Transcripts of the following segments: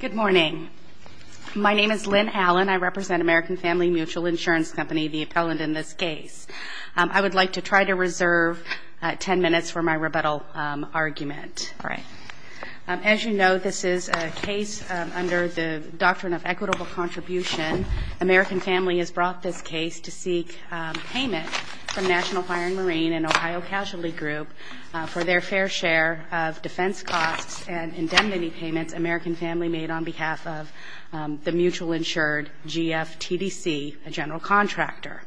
Good morning. My name is Lynn Allen. I represent American Family Mutual Insurance Company, the appellant in this case. I would like to try to reserve 10 minutes for my rebuttal argument. As you know, this is a case under the doctrine of equitable contribution. American Family has brought this case to seek payment from National Fire & Marine and Ohio Casualty Group for their fair share of defense costs and indemnity payments American Family made on behalf of the mutual insured GFTDC, a general contractor.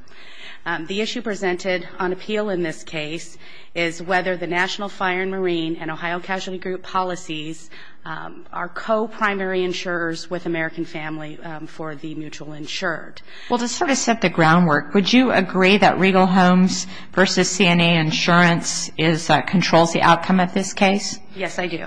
The issue presented on appeal in this case is whether the National Fire & Marine and Ohio Casualty Group policies are co-primary insurers with American Family for the mutual insured. Well, to sort of set the groundwork, would you agree that Regal Homes v. CNA Insurance controls the outcome of this case? Yes, I do.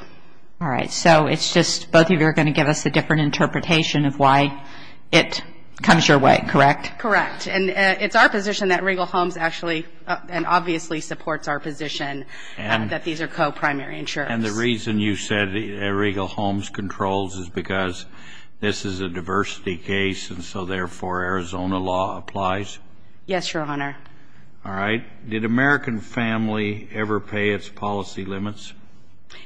All right. So it's just both of you are going to give us a different interpretation of why it comes your way, correct? Correct. And it's our position that Regal Homes actually and obviously supports our position that these are co-primary insurers. And the reason you said Regal Homes controls is because this is a diversity case, and so therefore Arizona law applies? Yes, Your Honor. All right. Did American Family ever pay its policy limits?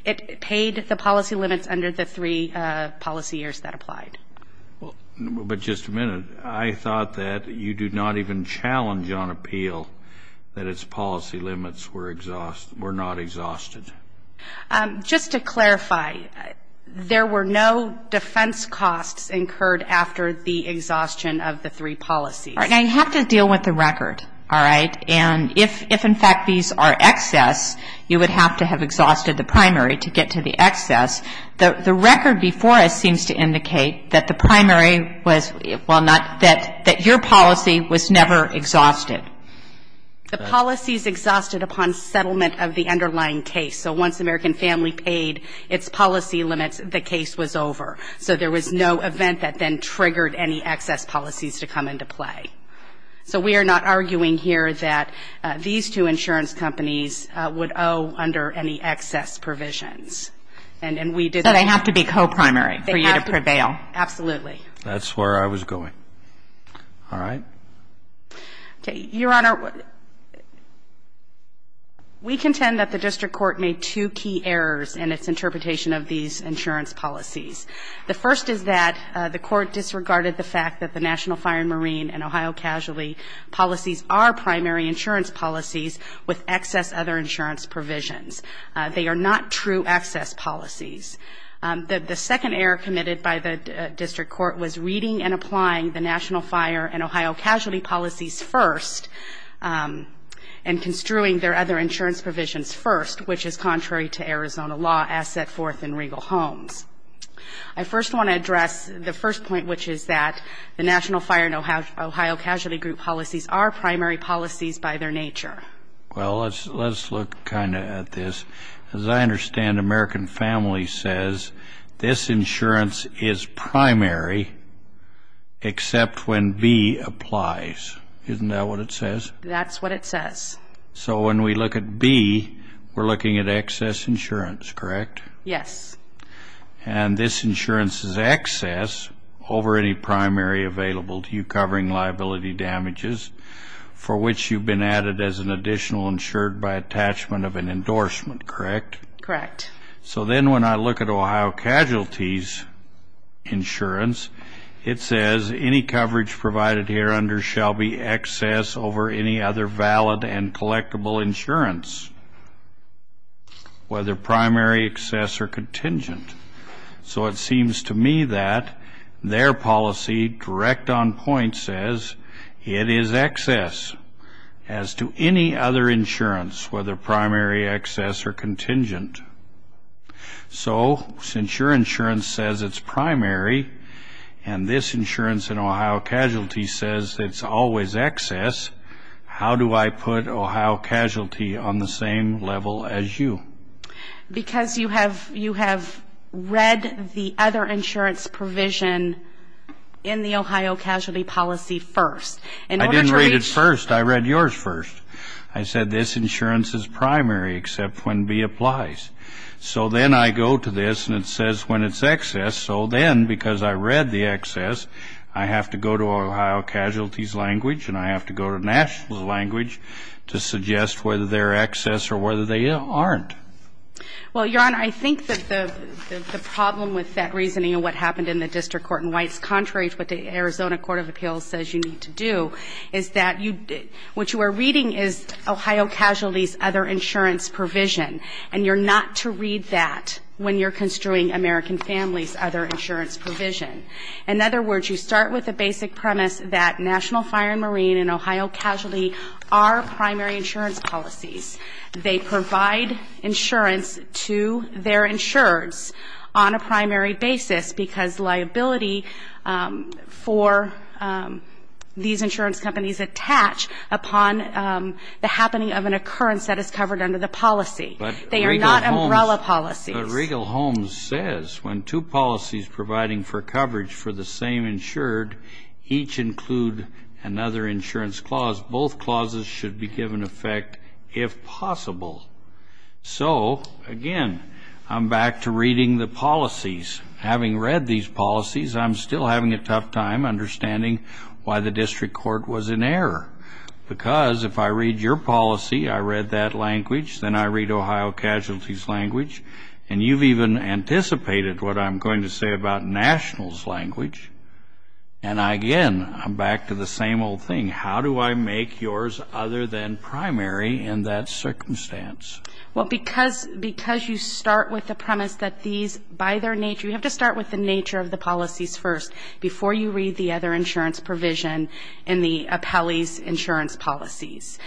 It paid the policy limits under the three policy years that applied. But just a minute, I thought that you do not even challenge on appeal that its policy limits were not exhausted. Just to clarify, there were no defense costs incurred after the exhaustion of the three policies. All right. Now, you have to deal with the record, all right? And if, in fact, these are excess, you would have to have exhausted the primary to get to the excess. The record before us seems to indicate that the primary was, well, not, that your policy was never exhausted. The policy is exhausted upon settlement of the underlying case. So once American Family paid its policy limits, the case was over. So there was no event that then triggered any excess policies to come into play. So we are not arguing here that these two insurance companies would owe under any excess provisions. And we did not. But they have to be co-primary for you to prevail. Absolutely. That's where I was going. All right. Okay. Your Honor, we contend that the district court made two key errors in its interpretation of these insurance policies. The first is that the court disregarded the fact that the National Fire and Marine and Ohio Casualty policies are primary insurance policies with excess other insurance provisions. They are not true excess policies. The second error committed by the district court was reading and applying the National Fire and Ohio Casualty policies first and construing their other insurance provisions first, which is contrary to Arizona law as set forth in Regal Homes. I first want to address the first point, which is that the National Fire and Ohio Casualty Group policies are primary policies by their nature. Well, let's look kind of at this. As I understand, American Family says this insurance is primary except when B applies. Isn't that what it says? That's what it says. So when we look at B, we're looking at excess insurance, correct? Yes. And this insurance is excess over any primary available to you covering liability damages for which you've been added as an additional insured by attachment of an endorsement, correct? Correct. So then when I look at Ohio Casualty's insurance, it says any coverage provided here under shall be excess over any other valid and collectible insurance, whether primary, excess, or contingent. So it seems to me that their policy direct on point says it is excess as to any other insurance, whether primary, excess, or contingent. So since your insurance says it's primary and this insurance in Ohio Casualty says it's always excess, how do I put Ohio Casualty on the same level as you? Because you have read the other insurance provision in the Ohio Casualty policy first. I didn't read it first. I read yours first. I said this insurance is primary except when B applies. So then I go to this and it says when it's excess. So then because I read the excess, I have to go to Ohio Casualty's language and I have to go to National's language to suggest whether they're excess or whether they aren't. Well, Your Honor, I think that the problem with that reasoning and what happened in the District Court and why it's contrary to what the Arizona Court of Appeals says you need to do is that what you are reading is Ohio Casualty's other insurance provision, and you're not to read that when you're construing American Families' other insurance provision. In other words, you start with the basic premise that National Fire and Marine and Ohio Casualty are primary insurance policies. They provide insurance to their insureds on a primary basis because liability for these insurance companies attach upon the happening of an occurrence that is covered under the policy. They are not umbrella policies. But Regal Holmes says when two policies providing for coverage for the same insured each include another insurance clause, both clauses should be given effect if possible. So, again, I'm back to reading the policies. Having read these policies, I'm still having a tough time understanding why the District Court was in error because if I read your policy, I read that language, then I read Ohio Casualty's language, and you've even anticipated what I'm going to say about National's language. And, again, I'm back to the same old thing. How do I make yours other than primary in that circumstance? Well, because you start with the premise that these, by their nature, you have to start with the nature of the policies first before you read the other insurance provision in the appellee's insurance policies.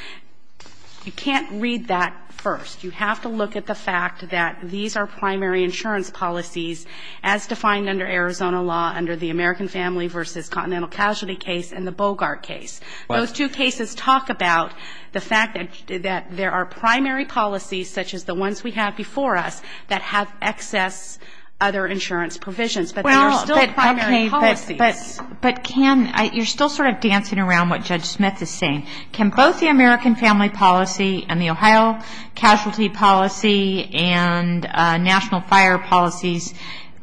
You can't read that first. You have to look at the fact that these are primary insurance policies as defined under Arizona law, under the American Family v. Continental Casualty case and the Bogart case. Those two cases talk about the fact that there are primary policies, such as the ones we have before us, that have excess other insurance provisions. But they are still primary policies. But can you're still sort of dancing around what Judge Smith is saying. Can both the American Family policy and the Ohio Casualty policy and National Fire policies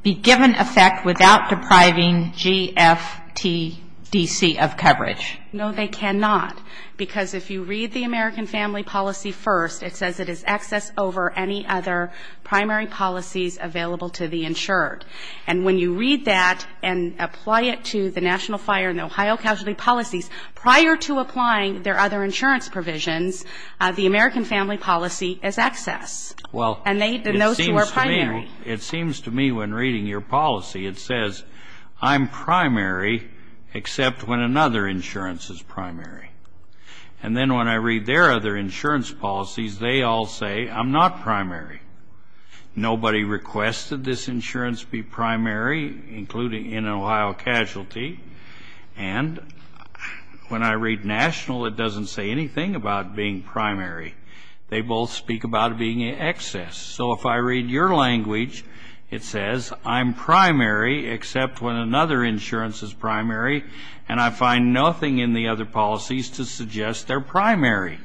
be given effect without depriving GFTDC of coverage? No, they cannot. Because if you read the American Family policy first, it says it is excess over any other primary policies available to the insured. And when you read that and apply it to the National Fire and the Ohio Casualty policies, prior to applying their other insurance provisions, the American Family policy is excess. Well, it seems to me when reading your policy, it says, I'm primary except when another insurance is primary. And then when I read their other insurance policies, they all say, I'm not primary. Nobody requested this insurance be primary, including in an Ohio Casualty. And when I read National, it doesn't say anything about being primary. They both speak about it being excess. So if I read your language, it says, I'm primary except when another insurance is primary, and I find nothing in the other policies to suggest they're primary.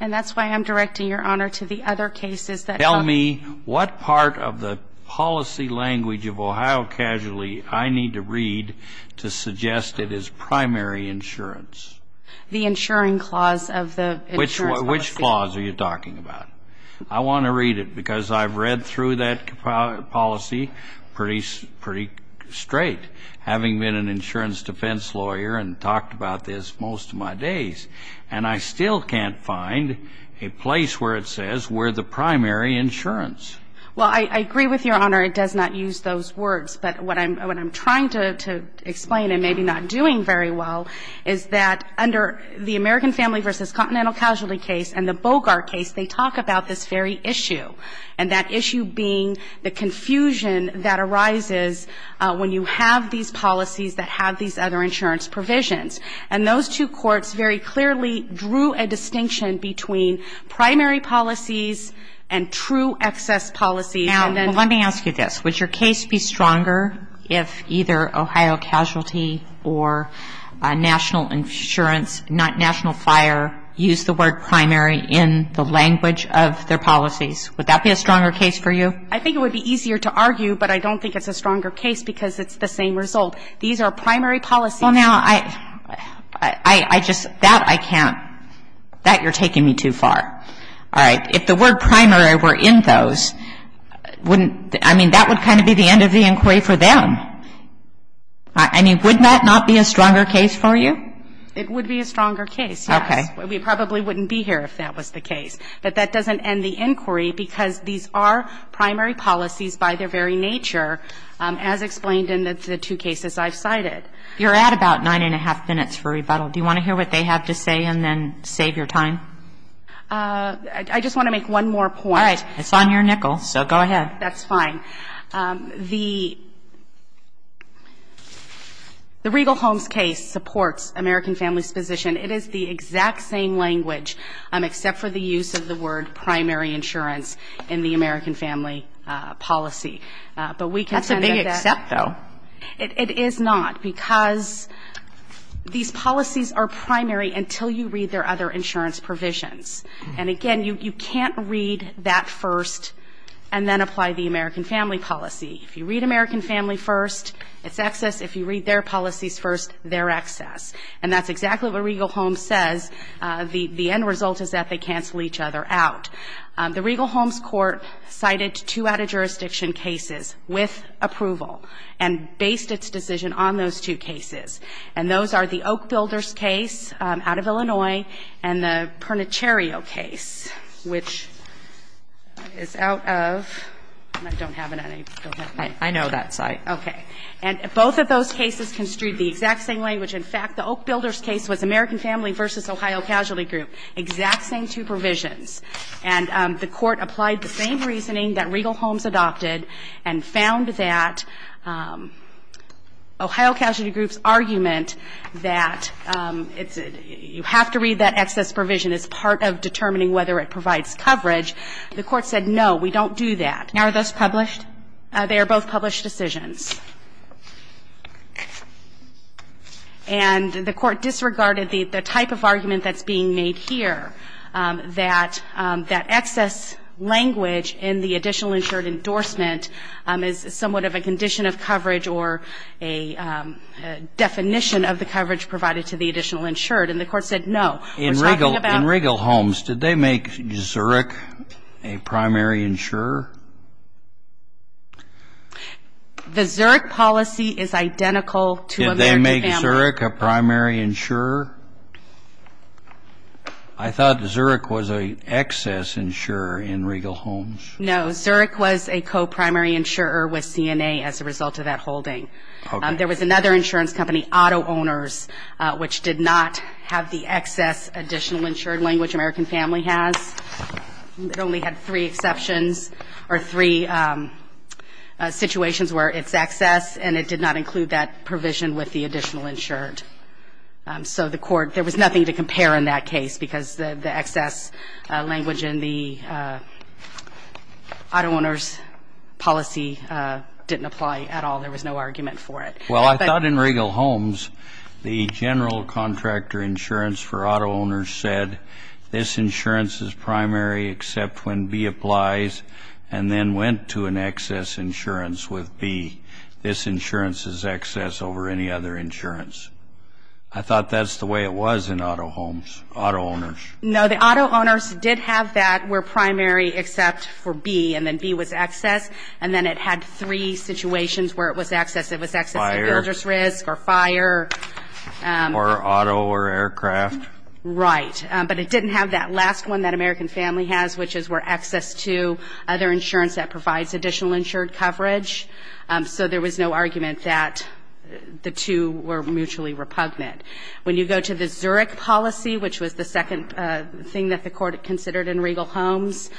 And that's why I'm directing your honor to the other cases that come up. Tell me what part of the policy language of Ohio Casualty I need to read to suggest it is primary insurance. The insuring clause of the insurance policy. Which clause are you talking about? I want to read it, because I've read through that policy pretty straight, having been an insurance defense lawyer and talked about this most of my days. And I still can't find a place where it says we're the primary insurance. Well, I agree with your honor. It does not use those words. But what I'm trying to explain, and maybe not doing very well, is that under the American Family v. Continental Casualty case and the Bogart case, they talk about this very issue. And that issue being the confusion that arises when you have these policies that have these other insurance provisions. And those two courts very clearly drew a distinction between primary policies and true excess policies. Now, let me ask you this. Would your case be stronger if either Ohio Casualty or National Fire used the word primary in the language of their policies? Would that be a stronger case for you? I think it would be easier to argue, but I don't think it's a stronger case, because it's the same result. These are primary policies. Well, now, I just, that I can't, that you're taking me too far. All right. If the word primary were in those, wouldn't, I mean, that would kind of be the end of the inquiry for them. I mean, wouldn't that not be a stronger case for you? It would be a stronger case, yes. Okay. We probably wouldn't be here if that was the case. But that doesn't end the inquiry, because these are primary policies by their very nature, as explained in the two cases I've cited. You're at about nine-and-a-half minutes for rebuttal. Do you want to hear what they have to say and then save your time? I just want to make one more point. All right. It's on your nickel, so go ahead. That's fine. The Regal Holmes case supports American Families' position. It is the exact same language, except for the use of the word primary insurance in the American Family policy. That's a big except, though. It is not, because these policies are primary until you read their other insurance provisions. And again, you can't read that first and then apply the American Family policy. If you read American Family first, it's excess. If you read their policies first, they're excess. And that's exactly what Regal Holmes says. The end result is that they cancel each other out. The Regal Holmes court cited two out-of-jurisdiction cases with approval. And based its decision on those two cases. And those are the Oak Builders case out of Illinois and the Pernicherio case, which is out of – I don't have it on me. I know that site. Okay. And both of those cases construed the exact same language. In fact, the Oak Builders case was American Family v. Ohio Casualty Group, exact same two provisions. And the court applied the same reasoning that Regal Holmes adopted and found that Ohio Casualty Group's argument that it's – you have to read that excess provision as part of determining whether it provides coverage. The court said, no, we don't do that. Now, are those published? They are both published decisions. And the court disregarded the type of argument that's being made here. That excess language in the additional insured endorsement is somewhat of a condition of coverage or a definition of the coverage provided to the additional insured. And the court said, no, we're talking about – In Regal Holmes, did they make Zurich a primary insurer? The Zurich policy is identical to American Family. Did they make Zurich a primary insurer? I thought Zurich was an excess insurer in Regal Holmes. No, Zurich was a co-primary insurer with CNA as a result of that holding. There was another insurance company, Auto Owners, which did not have the excess additional insured language American Family has. It only had three exceptions or three situations where it's excess, and it did not include that provision with the additional insured. So the court – there was nothing to compare in that case because the excess language in the Auto Owners policy didn't apply at all. There was no argument for it. Well, I thought in Regal Holmes the general contractor insurance for Auto Owners said, this insurance is primary except when B applies, and then went to an excess insurance with B. This insurance is excess over any other insurance. I thought that's the way it was in Auto Owners. No, the Auto Owners did have that where primary except for B, and then B was excess, and then it had three situations where it was excess. It was excess to builders risk or fire. Or auto or aircraft. Right. But it didn't have that last one that American Family has, which is where excess to other insurance that provides additional insured coverage. So there was no argument that the two were mutually repugnant. When you go to the Zurich policy, which was the second thing that the court considered in Regal Holmes,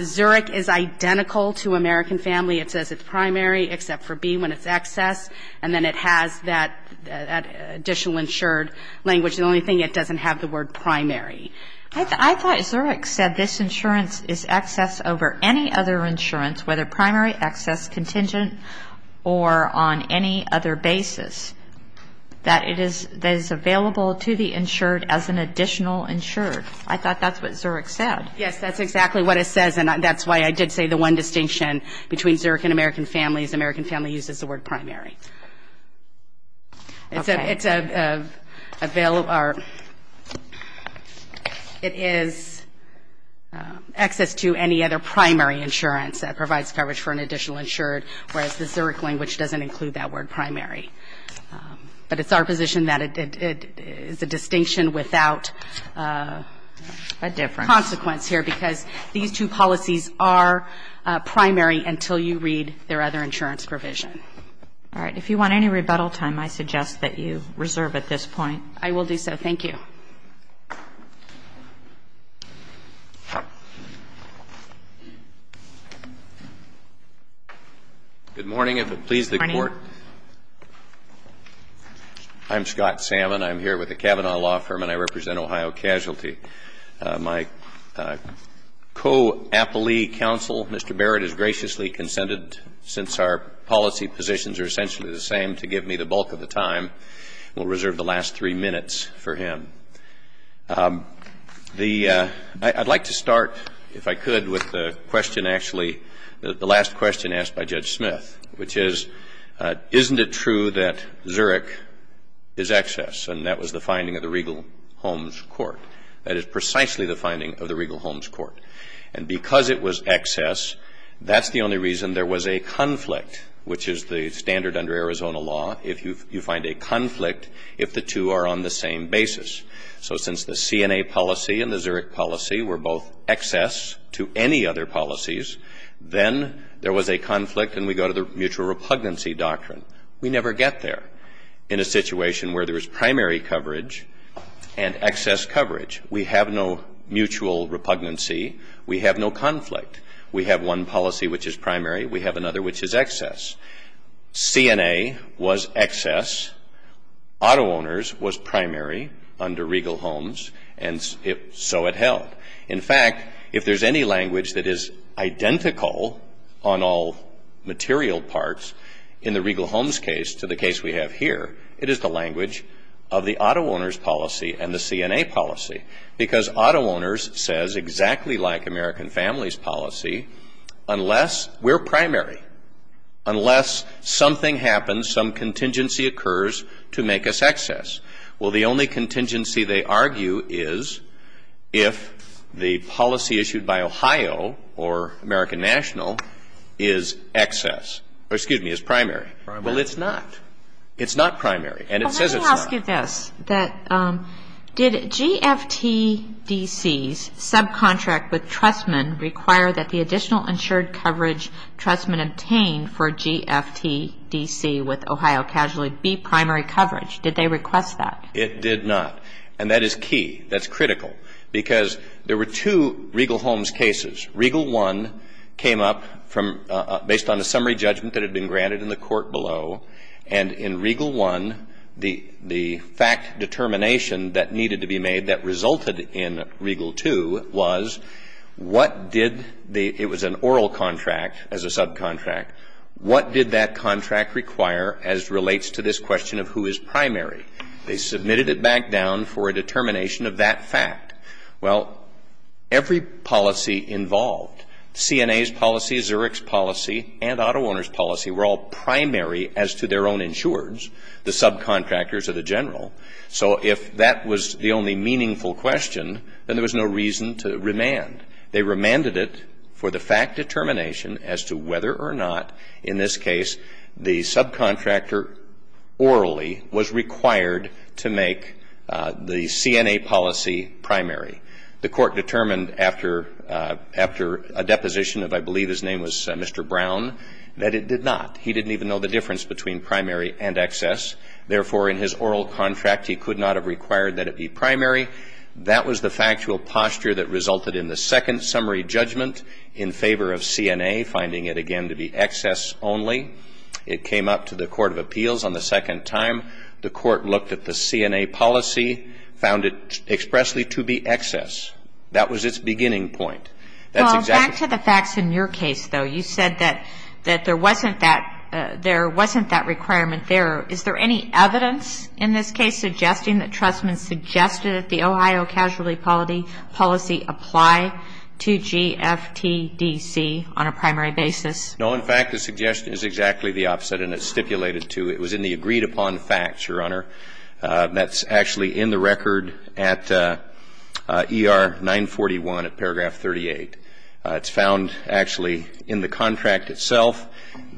Zurich is identical to American Family. It says it's primary except for B when it's excess, and then it has that additional insured language. The only thing, it doesn't have the word primary. I thought Zurich said this insurance is excess over any other insurance, whether primary, excess, contingent, or on any other basis, that it is available to the insured as an additional insured. I thought that's what Zurich said. Yes, that's exactly what it says, and that's why I did say the one distinction between Zurich and American Family is American Family uses the word primary. It's a bill or it is excess to any other primary insurance that provides coverage for an additional insured, whereas the Zurich language doesn't include that word primary. But it's our position that it is a distinction without a consequence here, because these two policies are primary until you read their other insurance provision. All right. If you want any rebuttal time, I suggest that you reserve at this point. I will do so. Thank you. Good morning. If it pleases the Court, I'm Scott Salmon. I'm here with the Kavanaugh Law Firm, and I represent Ohio Casualty. My co-appellee counsel, Mr. Barrett, has graciously consented, since our policy positions are essentially the same, to give me the bulk of the time. We'll reserve the last three minutes for him. I'd like to start, if I could, with the question, actually, the last question asked by Judge Smith, which is isn't it true that Zurich is excess? And that was the finding of the Regal Homes Court. That is precisely the finding of the Regal Homes Court. And because it was excess, that's the only reason there was a conflict, which is the standard under Arizona law, if you find a conflict if the two are on the same basis. So since the CNA policy and the Zurich policy were both excess to any other policies, then there was a conflict, and we go to the mutual repugnancy doctrine. We never get there. In a situation where there is primary coverage and excess coverage, we have no mutual repugnancy. We have no conflict. We have one policy which is primary. We have another which is excess. CNA was excess. Auto owners was primary under Regal Homes, and so it held. In fact, if there's any language that is identical on all material parts, in the Regal Homes case to the case we have here, it is the language of the auto owners policy and the CNA policy, because auto owners says exactly like American families policy, unless we're primary, unless something happens, some contingency occurs to make us excess. Well, the only contingency they argue is if the policy issued by Ohio or American National is excess, or excuse me, is primary. Well, it's not. It's not primary, and it says it's not. Well, let me ask you this. Did GFTDC's subcontract with Trustman require that the additional insured coverage Trustman obtained for GFTDC with Ohio Casualty be primary coverage? Did they request that? It did not, and that is key. That's critical, because there were two Regal Homes cases. Regal 1 came up based on a summary judgment that had been granted in the court below, and in Regal 1, the fact determination that needed to be made that resulted in Regal 2 was what did the – it was an oral contract as a subcontract. What did that contract require as relates to this question of who is primary? They submitted it back down for a determination of that fact. Well, every policy involved, CNA's policy, Zurich's policy, and auto owner's policy were all primary as to their own insureds, the subcontractors or the general. So if that was the only meaningful question, then there was no reason to remand. They remanded it for the fact determination as to whether or not, in this case, the subcontractor orally was required to make the CNA policy primary. The court determined after a deposition of, I believe his name was Mr. Brown, that it did not. He didn't even know the difference between primary and excess. Therefore, in his oral contract, he could not have required that it be primary. That was the factual posture that resulted in the second summary judgment in favor of CNA, finding it, again, to be excess only. It came up to the Court of Appeals on the second time. The court looked at the CNA policy, found it expressly to be excess. That was its beginning point. Well, back to the facts in your case, though. You said that there wasn't that requirement there. Is there any evidence in this case suggesting that Trustman suggested that the Ohio Casualty Policy apply to GFTDC on a primary basis? No. In fact, the suggestion is exactly the opposite, and it's stipulated to. It was in the agreed-upon facts, Your Honor. That's actually in the record at ER 941 at paragraph 38. It's found actually in the contract itself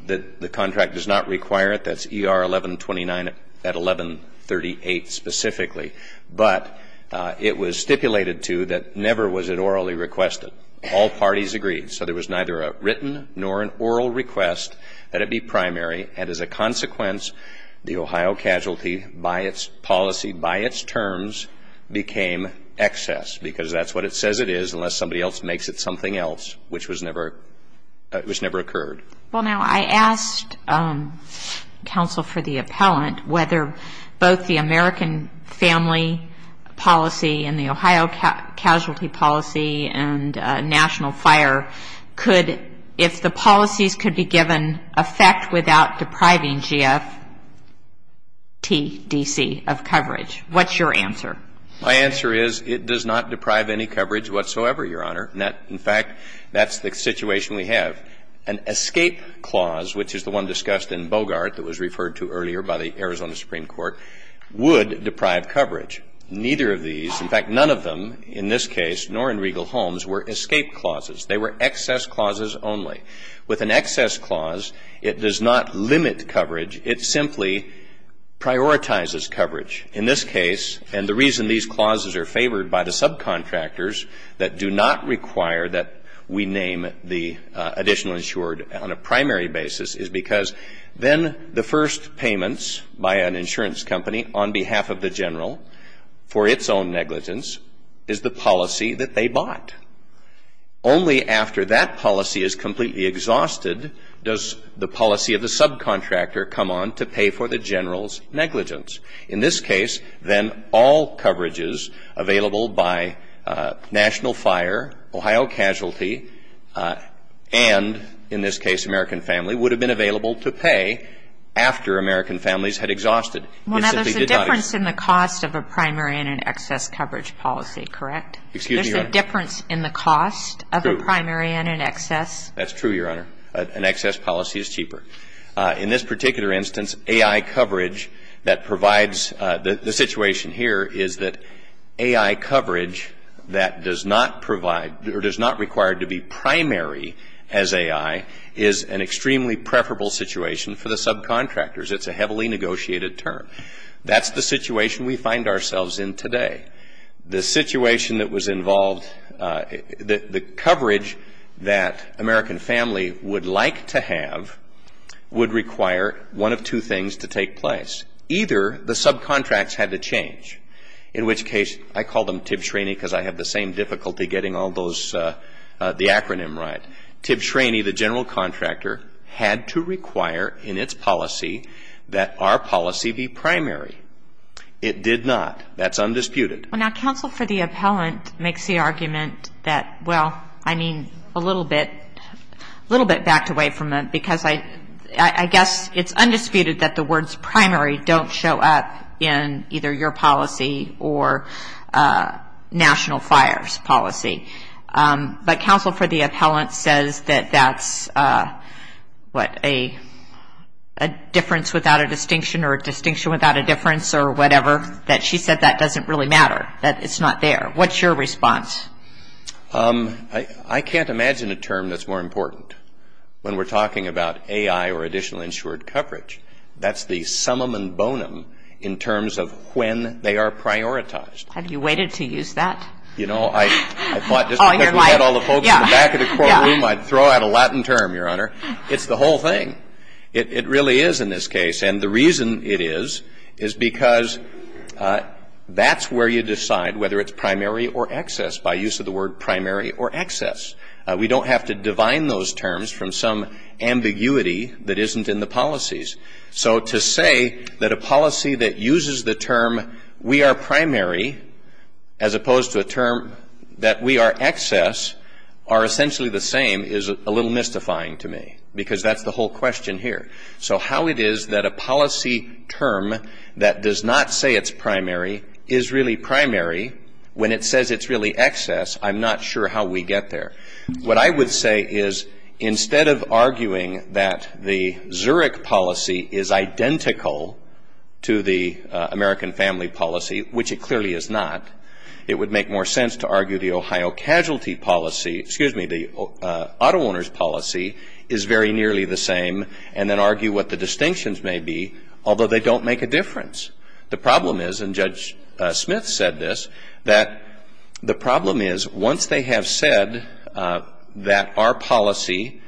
that the contract does not require it. That's ER 1129 at 1138 specifically. But it was stipulated to that never was it orally requested. All parties agreed. So there was neither a written nor an oral request that it be primary. And as a consequence, the Ohio Casualty, by its policy, by its terms, became excess, because that's what it says it is unless somebody else makes it something else, which never occurred. Well, now, I asked counsel for the appellant whether both the American Family Policy and the Ohio Casualty Policy and National Fire could, if the policies could be given effect without depriving GFTDC of coverage. What's your answer? My answer is it does not deprive any coverage whatsoever, Your Honor. In fact, that's the situation we have. An escape clause, which is the one discussed in Bogart that was referred to earlier by the Arizona Supreme Court, would deprive coverage. Neither of these, in fact, none of them, in this case, nor in Regal Holmes, were escape clauses. They were excess clauses only. With an excess clause, it does not limit coverage. It simply prioritizes coverage. In this case, and the reason these clauses are favored by the subcontractors that do not require that we name the additional insured on a primary basis is because then the first payments by an insurance company on behalf of the general for its own negligence is the policy that they bought. Only after that policy is completely exhausted does the policy of the subcontractor come on to pay for the general's negligence. In this case, then, all coverages available by National Fire, Ohio Casualty, and, in this case, American Family, would have been available to pay after American Families had exhausted. It simply did not exist. Well, now, there's a difference in the cost of a primary and an excess coverage policy, correct? Excuse me, Your Honor. There's a difference in the cost of a primary and an excess? True. That's true, Your Honor. An excess policy is cheaper. In this particular instance, AI coverage that provides the situation here is that AI coverage that does not provide or does not require to be primary as AI is an extremely preferable situation for the subcontractors. It's a heavily negotiated term. That's the situation we find ourselves in today. The situation that was involved, the coverage that American Family would like to have would require one of two things to take place. Either the subcontracts had to change, in which case, I call them TIB Schraney because I have the same difficulty getting all those, the acronym right. TIB Schraney, the general contractor, had to require in its policy that our policy be primary. It did not. That's undisputed. Well, now, counsel for the appellant makes the argument that, well, I mean, a little bit, a little bit backed away from it because I guess it's undisputed that the words primary don't show up in either your policy or National Fire's policy. But counsel for the appellant says that that's, what, a difference without a distinction or a distinction without a difference or whatever, that she said that doesn't really matter, that it's not there. What's your response? I can't imagine a term that's more important when we're talking about AI or additional insured coverage. That's the summum and bonum in terms of when they are prioritized. Have you waited to use that? You know, I thought just because we had all the folks in the back of the courtroom, I'd throw out a Latin term, Your Honor. It's the whole thing. It really is in this case. And the reason it is is because that's where you decide whether it's primary or excess, by use of the word primary or excess. We don't have to divine those terms from some ambiguity that isn't in the policies. So to say that a policy that uses the term we are primary as opposed to a term that we are excess are essentially the same is a little mystifying to me because that's the whole question here. So how it is that a policy term that does not say it's primary is really primary when it says it's really excess, I'm not sure how we get there. What I would say is instead of arguing that the Zurich policy is identical to the American family policy, which it clearly is not, it would make more sense to argue the Ohio casualty policy, excuse me, the auto owner's policy is very nearly the same and then argue what the distinctions may be, although they don't make a difference. The problem is, and Judge Smith said this, that the problem is once they have said that our policy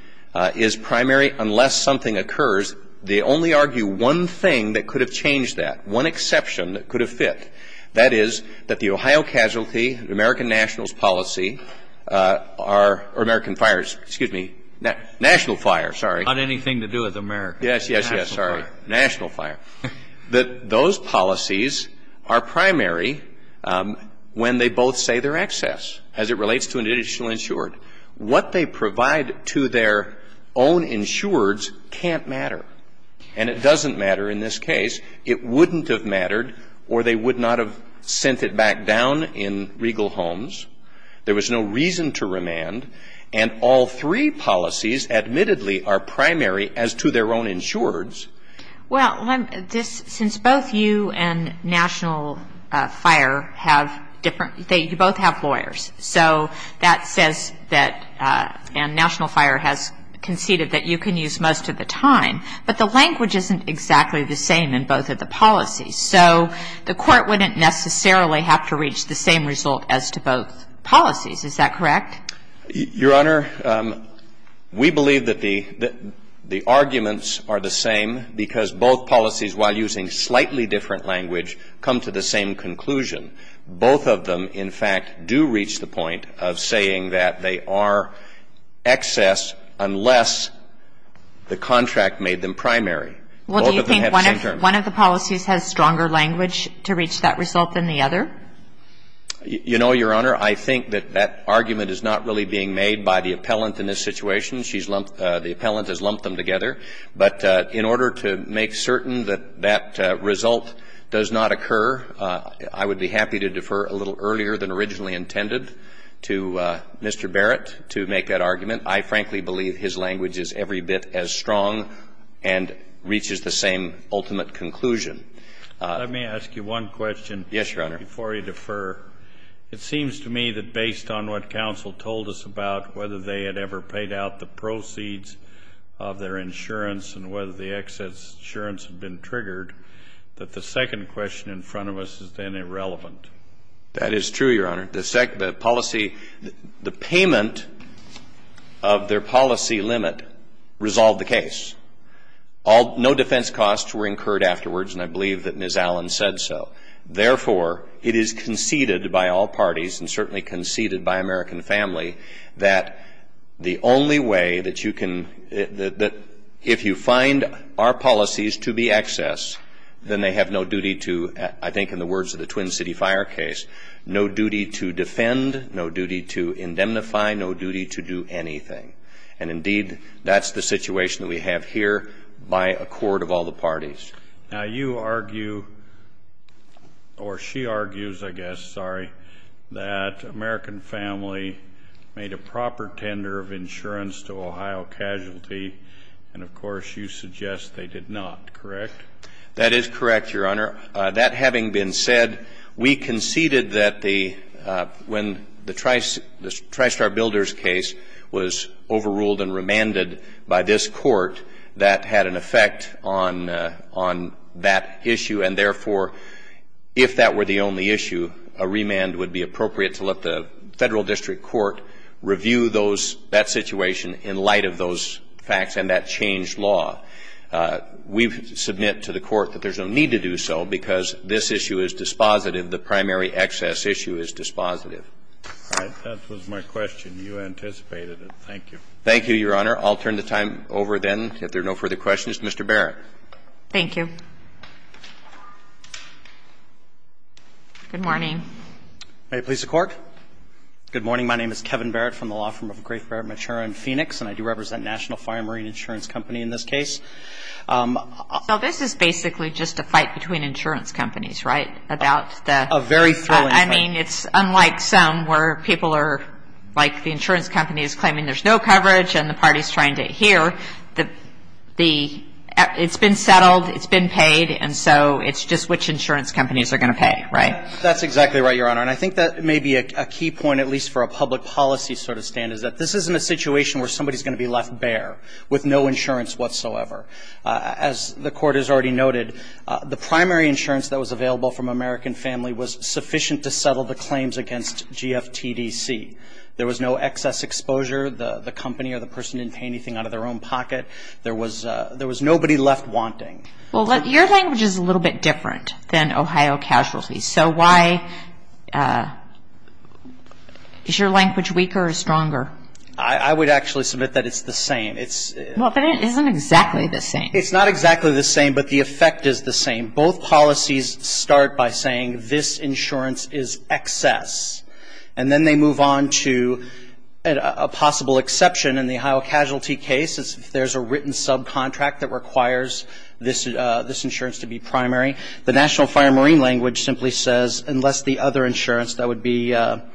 is primary unless something occurs, they only argue one thing that could have changed that, one exception that could have fit. That is that the Ohio casualty, American nationals policy are, or American fires, excuse me, national fire, sorry. Not anything to do with America. Yes, yes, yes, sorry. National fire. National fire. That those policies are primary when they both say they're excess as it relates to an additional insured. What they provide to their own insureds can't matter. And it doesn't matter in this case. It wouldn't have mattered or they would not have sent it back down in regal homes. There was no reason to remand. And all three policies admittedly are primary as to their own insureds. Well, this, since both you and national fire have different, they both have lawyers. So that says that, and national fire has conceded that you can use most of the time. But the language isn't exactly the same in both of the policies. So the Court wouldn't necessarily have to reach the same result as to both policies. Is that correct? Your Honor, we believe that the arguments are the same because both policies, while using slightly different language, come to the same conclusion. Both of them, in fact, do reach the point of saying that they are excess unless the contract made them primary. Well, do you think one of the policies has stronger language to reach that result than the other? You know, Your Honor, I think that that argument is not really being made by the appellant in this situation. She's lumped, the appellant has lumped them together. But in order to make certain that that result does not occur, I would be happy to defer a little earlier than originally intended to Mr. Barrett to make that argument. I frankly believe his language is every bit as strong and reaches the same ultimate conclusion. Let me ask you one question. Yes, Your Honor. Before you defer, it seems to me that based on what counsel told us about whether they had ever paid out the proceeds of their insurance and whether the excess insurance had been triggered, that the second question in front of us is then irrelevant. That is true, Your Honor. The policy, the payment of their policy limit resolved the case. No defense costs were incurred afterwards, and I believe that Ms. Allen said so. Therefore, it is conceded by all parties and certainly conceded by American family that the only way that you can, that if you find our policies to be excess, then they have no duty to, I think in the words of the Twin City Fire case, no duty to defend, no duty to indemnify, no duty to do anything. And indeed, that's the situation that we have here by accord of all the parties. Now, you argue, or she argues, I guess, sorry, that American Family made a proper tender of insurance to Ohio Casualty, and, of course, you suggest they did not, correct? That is correct, Your Honor. That having been said, we conceded that the, when the TriStar Builders case was overruled and remanded by this Court, that had an effect on, on that issue. And, therefore, if that were the only issue, a remand would be appropriate to let the Federal District Court review those, that situation in light of those facts and that changed law. We submit to the Court that there's no need to do so because this issue is dispositive, the primary excess issue is dispositive. All right. That was my question. You anticipated it. Thank you. Thank you, Your Honor. I'll turn the time over, then, if there are no further questions. Mr. Barrett. Thank you. Good morning. May it please the Court? Good morning. My name is Kevin Barrett from the law firm of Grave Barrett Mature and Phoenix, and I do represent National Fire and Marine Insurance Company in this case. So this is basically just a fight between insurance companies, right, about the A very thrilling fight. I mean, it's unlike some where people are, like, the insurance company is claiming there's no coverage and the party is trying to adhere. The – it's been settled, it's been paid, and so it's just which insurance companies are going to pay, right? That's exactly right, Your Honor. And I think that may be a key point, at least for a public policy sort of stand, is that this isn't a situation where somebody is going to be left bare with no insurance whatsoever. As the Court has already noted, the primary insurance that was available from American Family was sufficient to settle the claims against GFTDC. There was no excess exposure. The company or the person didn't pay anything out of their own pocket. There was nobody left wanting. Well, your language is a little bit different than Ohio Casualty. So why – is your language weaker or stronger? I would actually submit that it's the same. Well, but it isn't exactly the same. It's not exactly the same, but the effect is the same. Both policies start by saying this insurance is excess, and then they move on to a possible exception in the Ohio Casualty case, if there's a written subcontract that requires this insurance to be primary. The National Fire and Marine language simply says, unless the other insurance, that would be the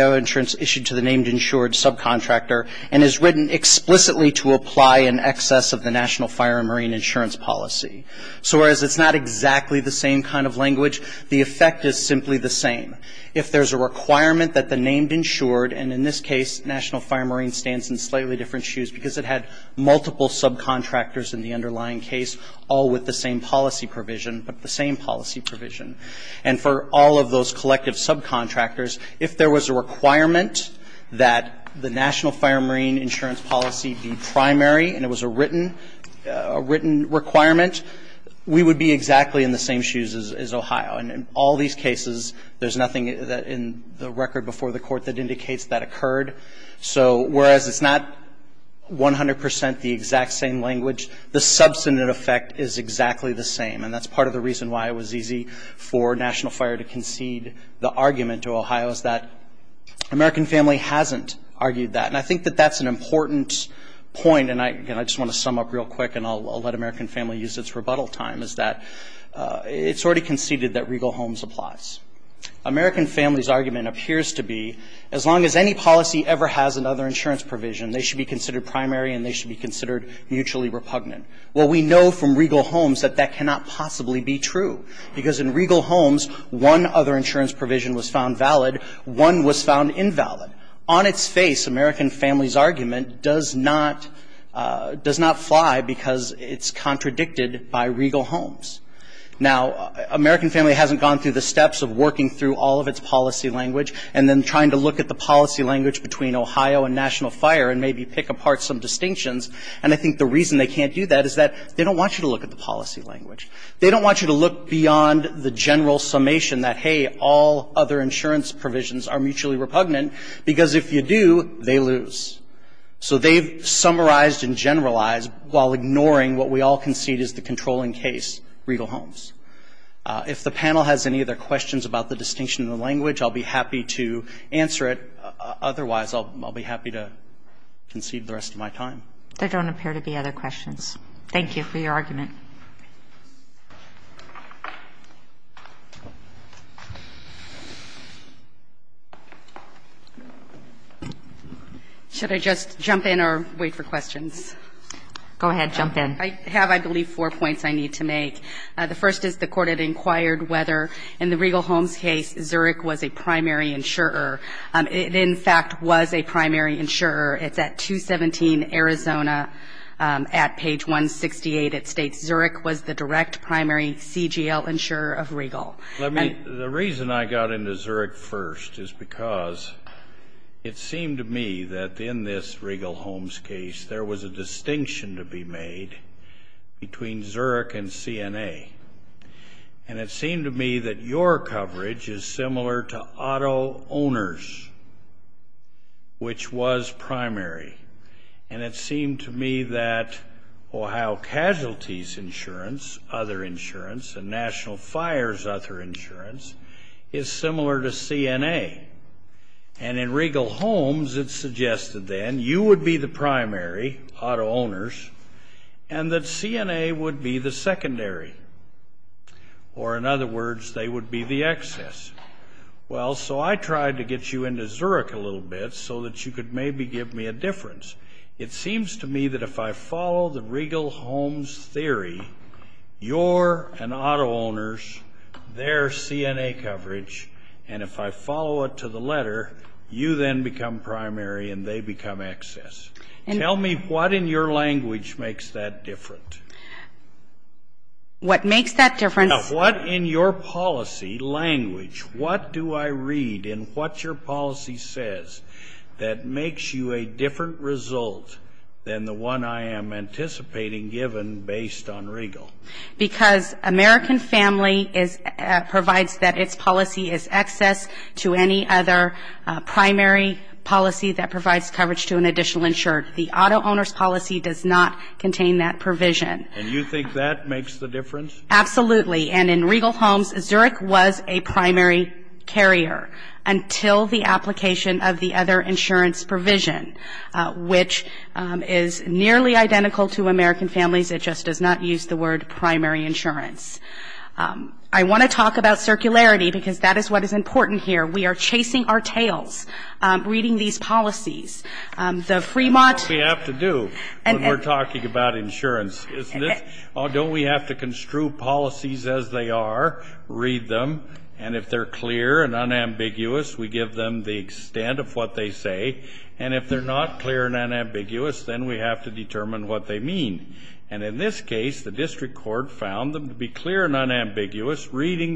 other insurance issued to the named insured subcontractor, and is written explicitly to apply an excess of the National Fire and Marine insurance policy. So whereas it's not exactly the same kind of language, the effect is simply the same. If there's a requirement that the named insured, and in this case, National Fire and Marine stands in slightly different shoes because it had multiple subcontractors in the underlying case, all with the same policy provision, but the same policy provision. And for all of those collective subcontractors, if there was a requirement that the National Fire and Marine insurance policy be primary, and it was a written requirement, we would be exactly in the same shoes as Ohio. And in all these cases, there's nothing in the record before the court that indicates that occurred. So whereas it's not 100 percent the exact same language, the substantive effect is exactly the same. And that's part of the reason why it was easy for National Fire to concede the claim was that American Family hasn't argued that. And I think that that's an important point. And I just want to sum up real quick, and I'll let American Family use its rebuttal time, is that it's already conceded that Regal Homes applies. American Family's argument appears to be as long as any policy ever has another insurance provision, they should be considered primary and they should be considered mutually repugnant. Well, we know from Regal Homes that that cannot possibly be true, because in Regal Homes one insurance provision was found valid, one was found invalid. On its face, American Family's argument does not fly because it's contradicted by Regal Homes. Now, American Family hasn't gone through the steps of working through all of its policy language and then trying to look at the policy language between Ohio and National Fire and maybe pick apart some distinctions. And I think the reason they can't do that is that they don't want you to look at the policy language. They don't want you to look beyond the general summation that, hey, all other insurance provisions are mutually repugnant, because if you do, they lose. So they've summarized and generalized while ignoring what we all concede is the controlling case, Regal Homes. If the panel has any other questions about the distinction in the language, I'll be happy to answer it. Otherwise, I'll be happy to concede the rest of my time. There don't appear to be other questions. Thank you for your argument. Should I just jump in or wait for questions? Go ahead. Jump in. I have, I believe, four points I need to make. The first is the Court had inquired whether, in the Regal Homes case, Zurich was a primary insurer. It, in fact, was a primary insurer. It's at 217 Arizona at page 168. It states, Zurich was the direct primary CGL insurer of Regal. Let me, the reason I got into Zurich first is because it seemed to me that in this Regal Homes case, there was a distinction to be made between Zurich and CNA. And it seemed to me that your coverage is similar to auto owners, which was primary. And it seemed to me that Ohio Casualty's insurance, other insurance, and National Fire's other insurance, is similar to CNA. And in Regal Homes, it's suggested then, you would be the primary auto owners, and that they would be the excess. Well, so I tried to get you into Zurich a little bit so that you could maybe give me a difference. It seems to me that if I follow the Regal Homes theory, your and auto owners, their CNA coverage, and if I follow it to the letter, you then become primary and they become excess. And tell me what in your language makes that different. What makes that difference? Now, what in your policy language, what do I read in what your policy says that makes you a different result than the one I am anticipating given based on Regal? Because American Family provides that its policy is excess to any other primary policy that provides coverage to an additional insured. The auto owners policy does not contain that provision. And you think that makes the difference? Absolutely. And in Regal Homes, Zurich was a primary carrier until the application of the other insurance provision, which is nearly identical to American Families. It just does not use the word primary insurance. I want to talk about circularity, because that is what is important here. We are chasing our tails reading these policies. The Fremont. What do we have to do when we're talking about insurance? Don't we have to construe policies as they are, read them, and if they're clear and unambiguous, we give them the extent of what they say, and if they're not clear and unambiguous, reading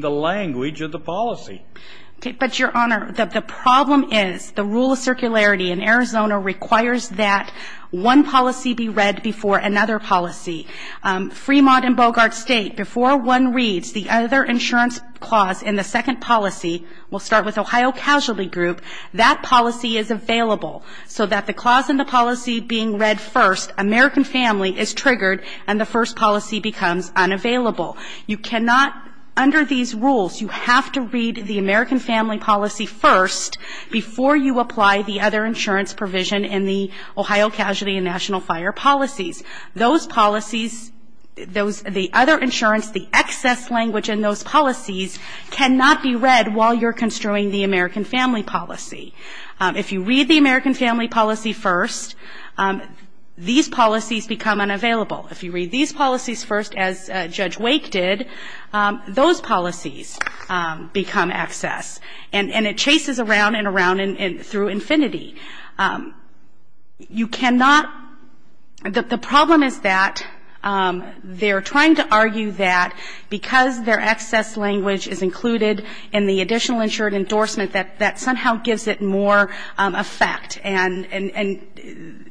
the language of the policy. But, Your Honor, the problem is the rule of circularity in Arizona requires that one policy be read before another policy. Fremont and Bogart State, before one reads the other insurance clause in the second policy, we'll start with Ohio Casualty Group, that policy is available, so that the clause in the policy being read first, American Family, is triggered and the first policy becomes unavailable. You cannot, under these rules, you have to read the American Family policy first before you apply the other insurance provision in the Ohio Casualty and National Fire policies. Those policies, those, the other insurance, the excess language in those policies cannot be read while you're construing the American Family policy. If you read the American Family policy first, these policies become unavailable. If you read these policies first, as Judge Wake did, those policies become excess, and it chases around and around and through infinity. You cannot, the problem is that they're trying to argue that because their excess language is included in the additional insured endorsement, that that somehow gives it more effect, and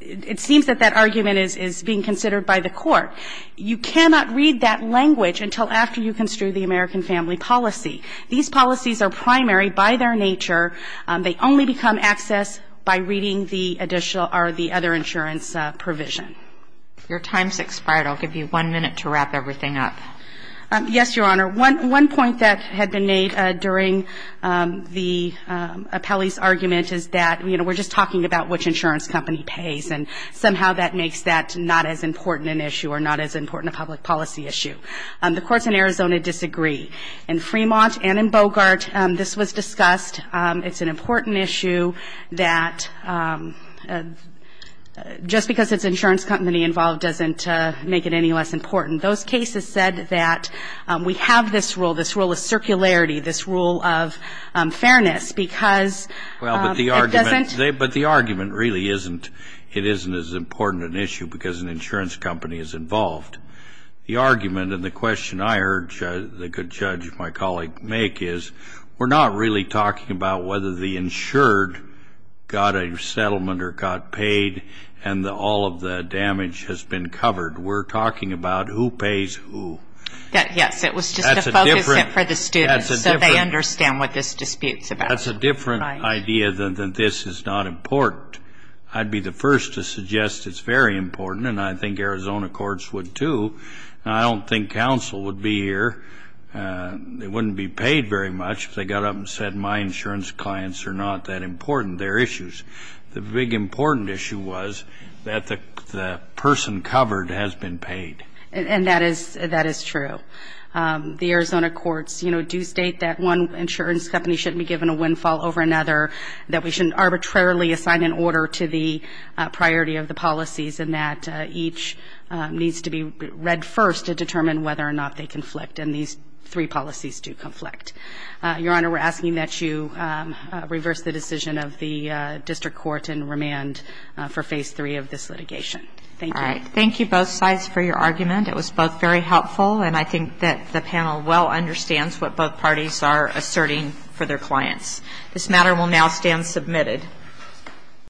it seems that that argument is being considered by the Court. You cannot read that language until after you construe the American Family policy. These policies are primary by their nature. They only become excess by reading the additional or the other insurance provision. Your time's expired. I'll give you one minute to wrap everything up. Yes, Your Honor. One point that had been made during the appellee's argument is that, you know, we're just talking about which insurance company pays, and somehow that makes that not as important an issue or not as important a public policy issue. The courts in Arizona disagree. In Fremont and in Bogart, this was discussed. It's an important issue that just because it's an insurance company involved doesn't make it any less important. Those cases said that we have this rule, this rule of circularity, this rule of fairness, because it doesn't Well, but the argument really isn't. It isn't as important an issue because an insurance company is involved. The argument and the question I heard the good judge, my colleague, make is we're not really talking about whether the insured got a settlement or got paid and all of the damage has been covered. We're talking about who pays who. Yes, it was just to focus it for the students so they understand what this dispute's about. That's a different idea than this is not important. I'd be the first to suggest it's very important, and I think Arizona courts would too. I don't think counsel would be here. They wouldn't be paid very much if they got up and said my insurance clients are not that important. They're issues. The big important issue was that the person covered has been paid. And that is true. The Arizona courts, you know, do state that one insurance company shouldn't be given a windfall over another, that we shouldn't arbitrarily assign an order to the priority of the policies, and that each needs to be read first to determine whether or not they conflict, and these three policies do conflict. Your Honor, we're asking that you reverse the decision of the district court and remand for phase three of this litigation. Thank you. Thank you both sides for your argument. It was both very helpful, and I think that the panel well understands what both parties are asserting for their clients. This matter will now stand submitted.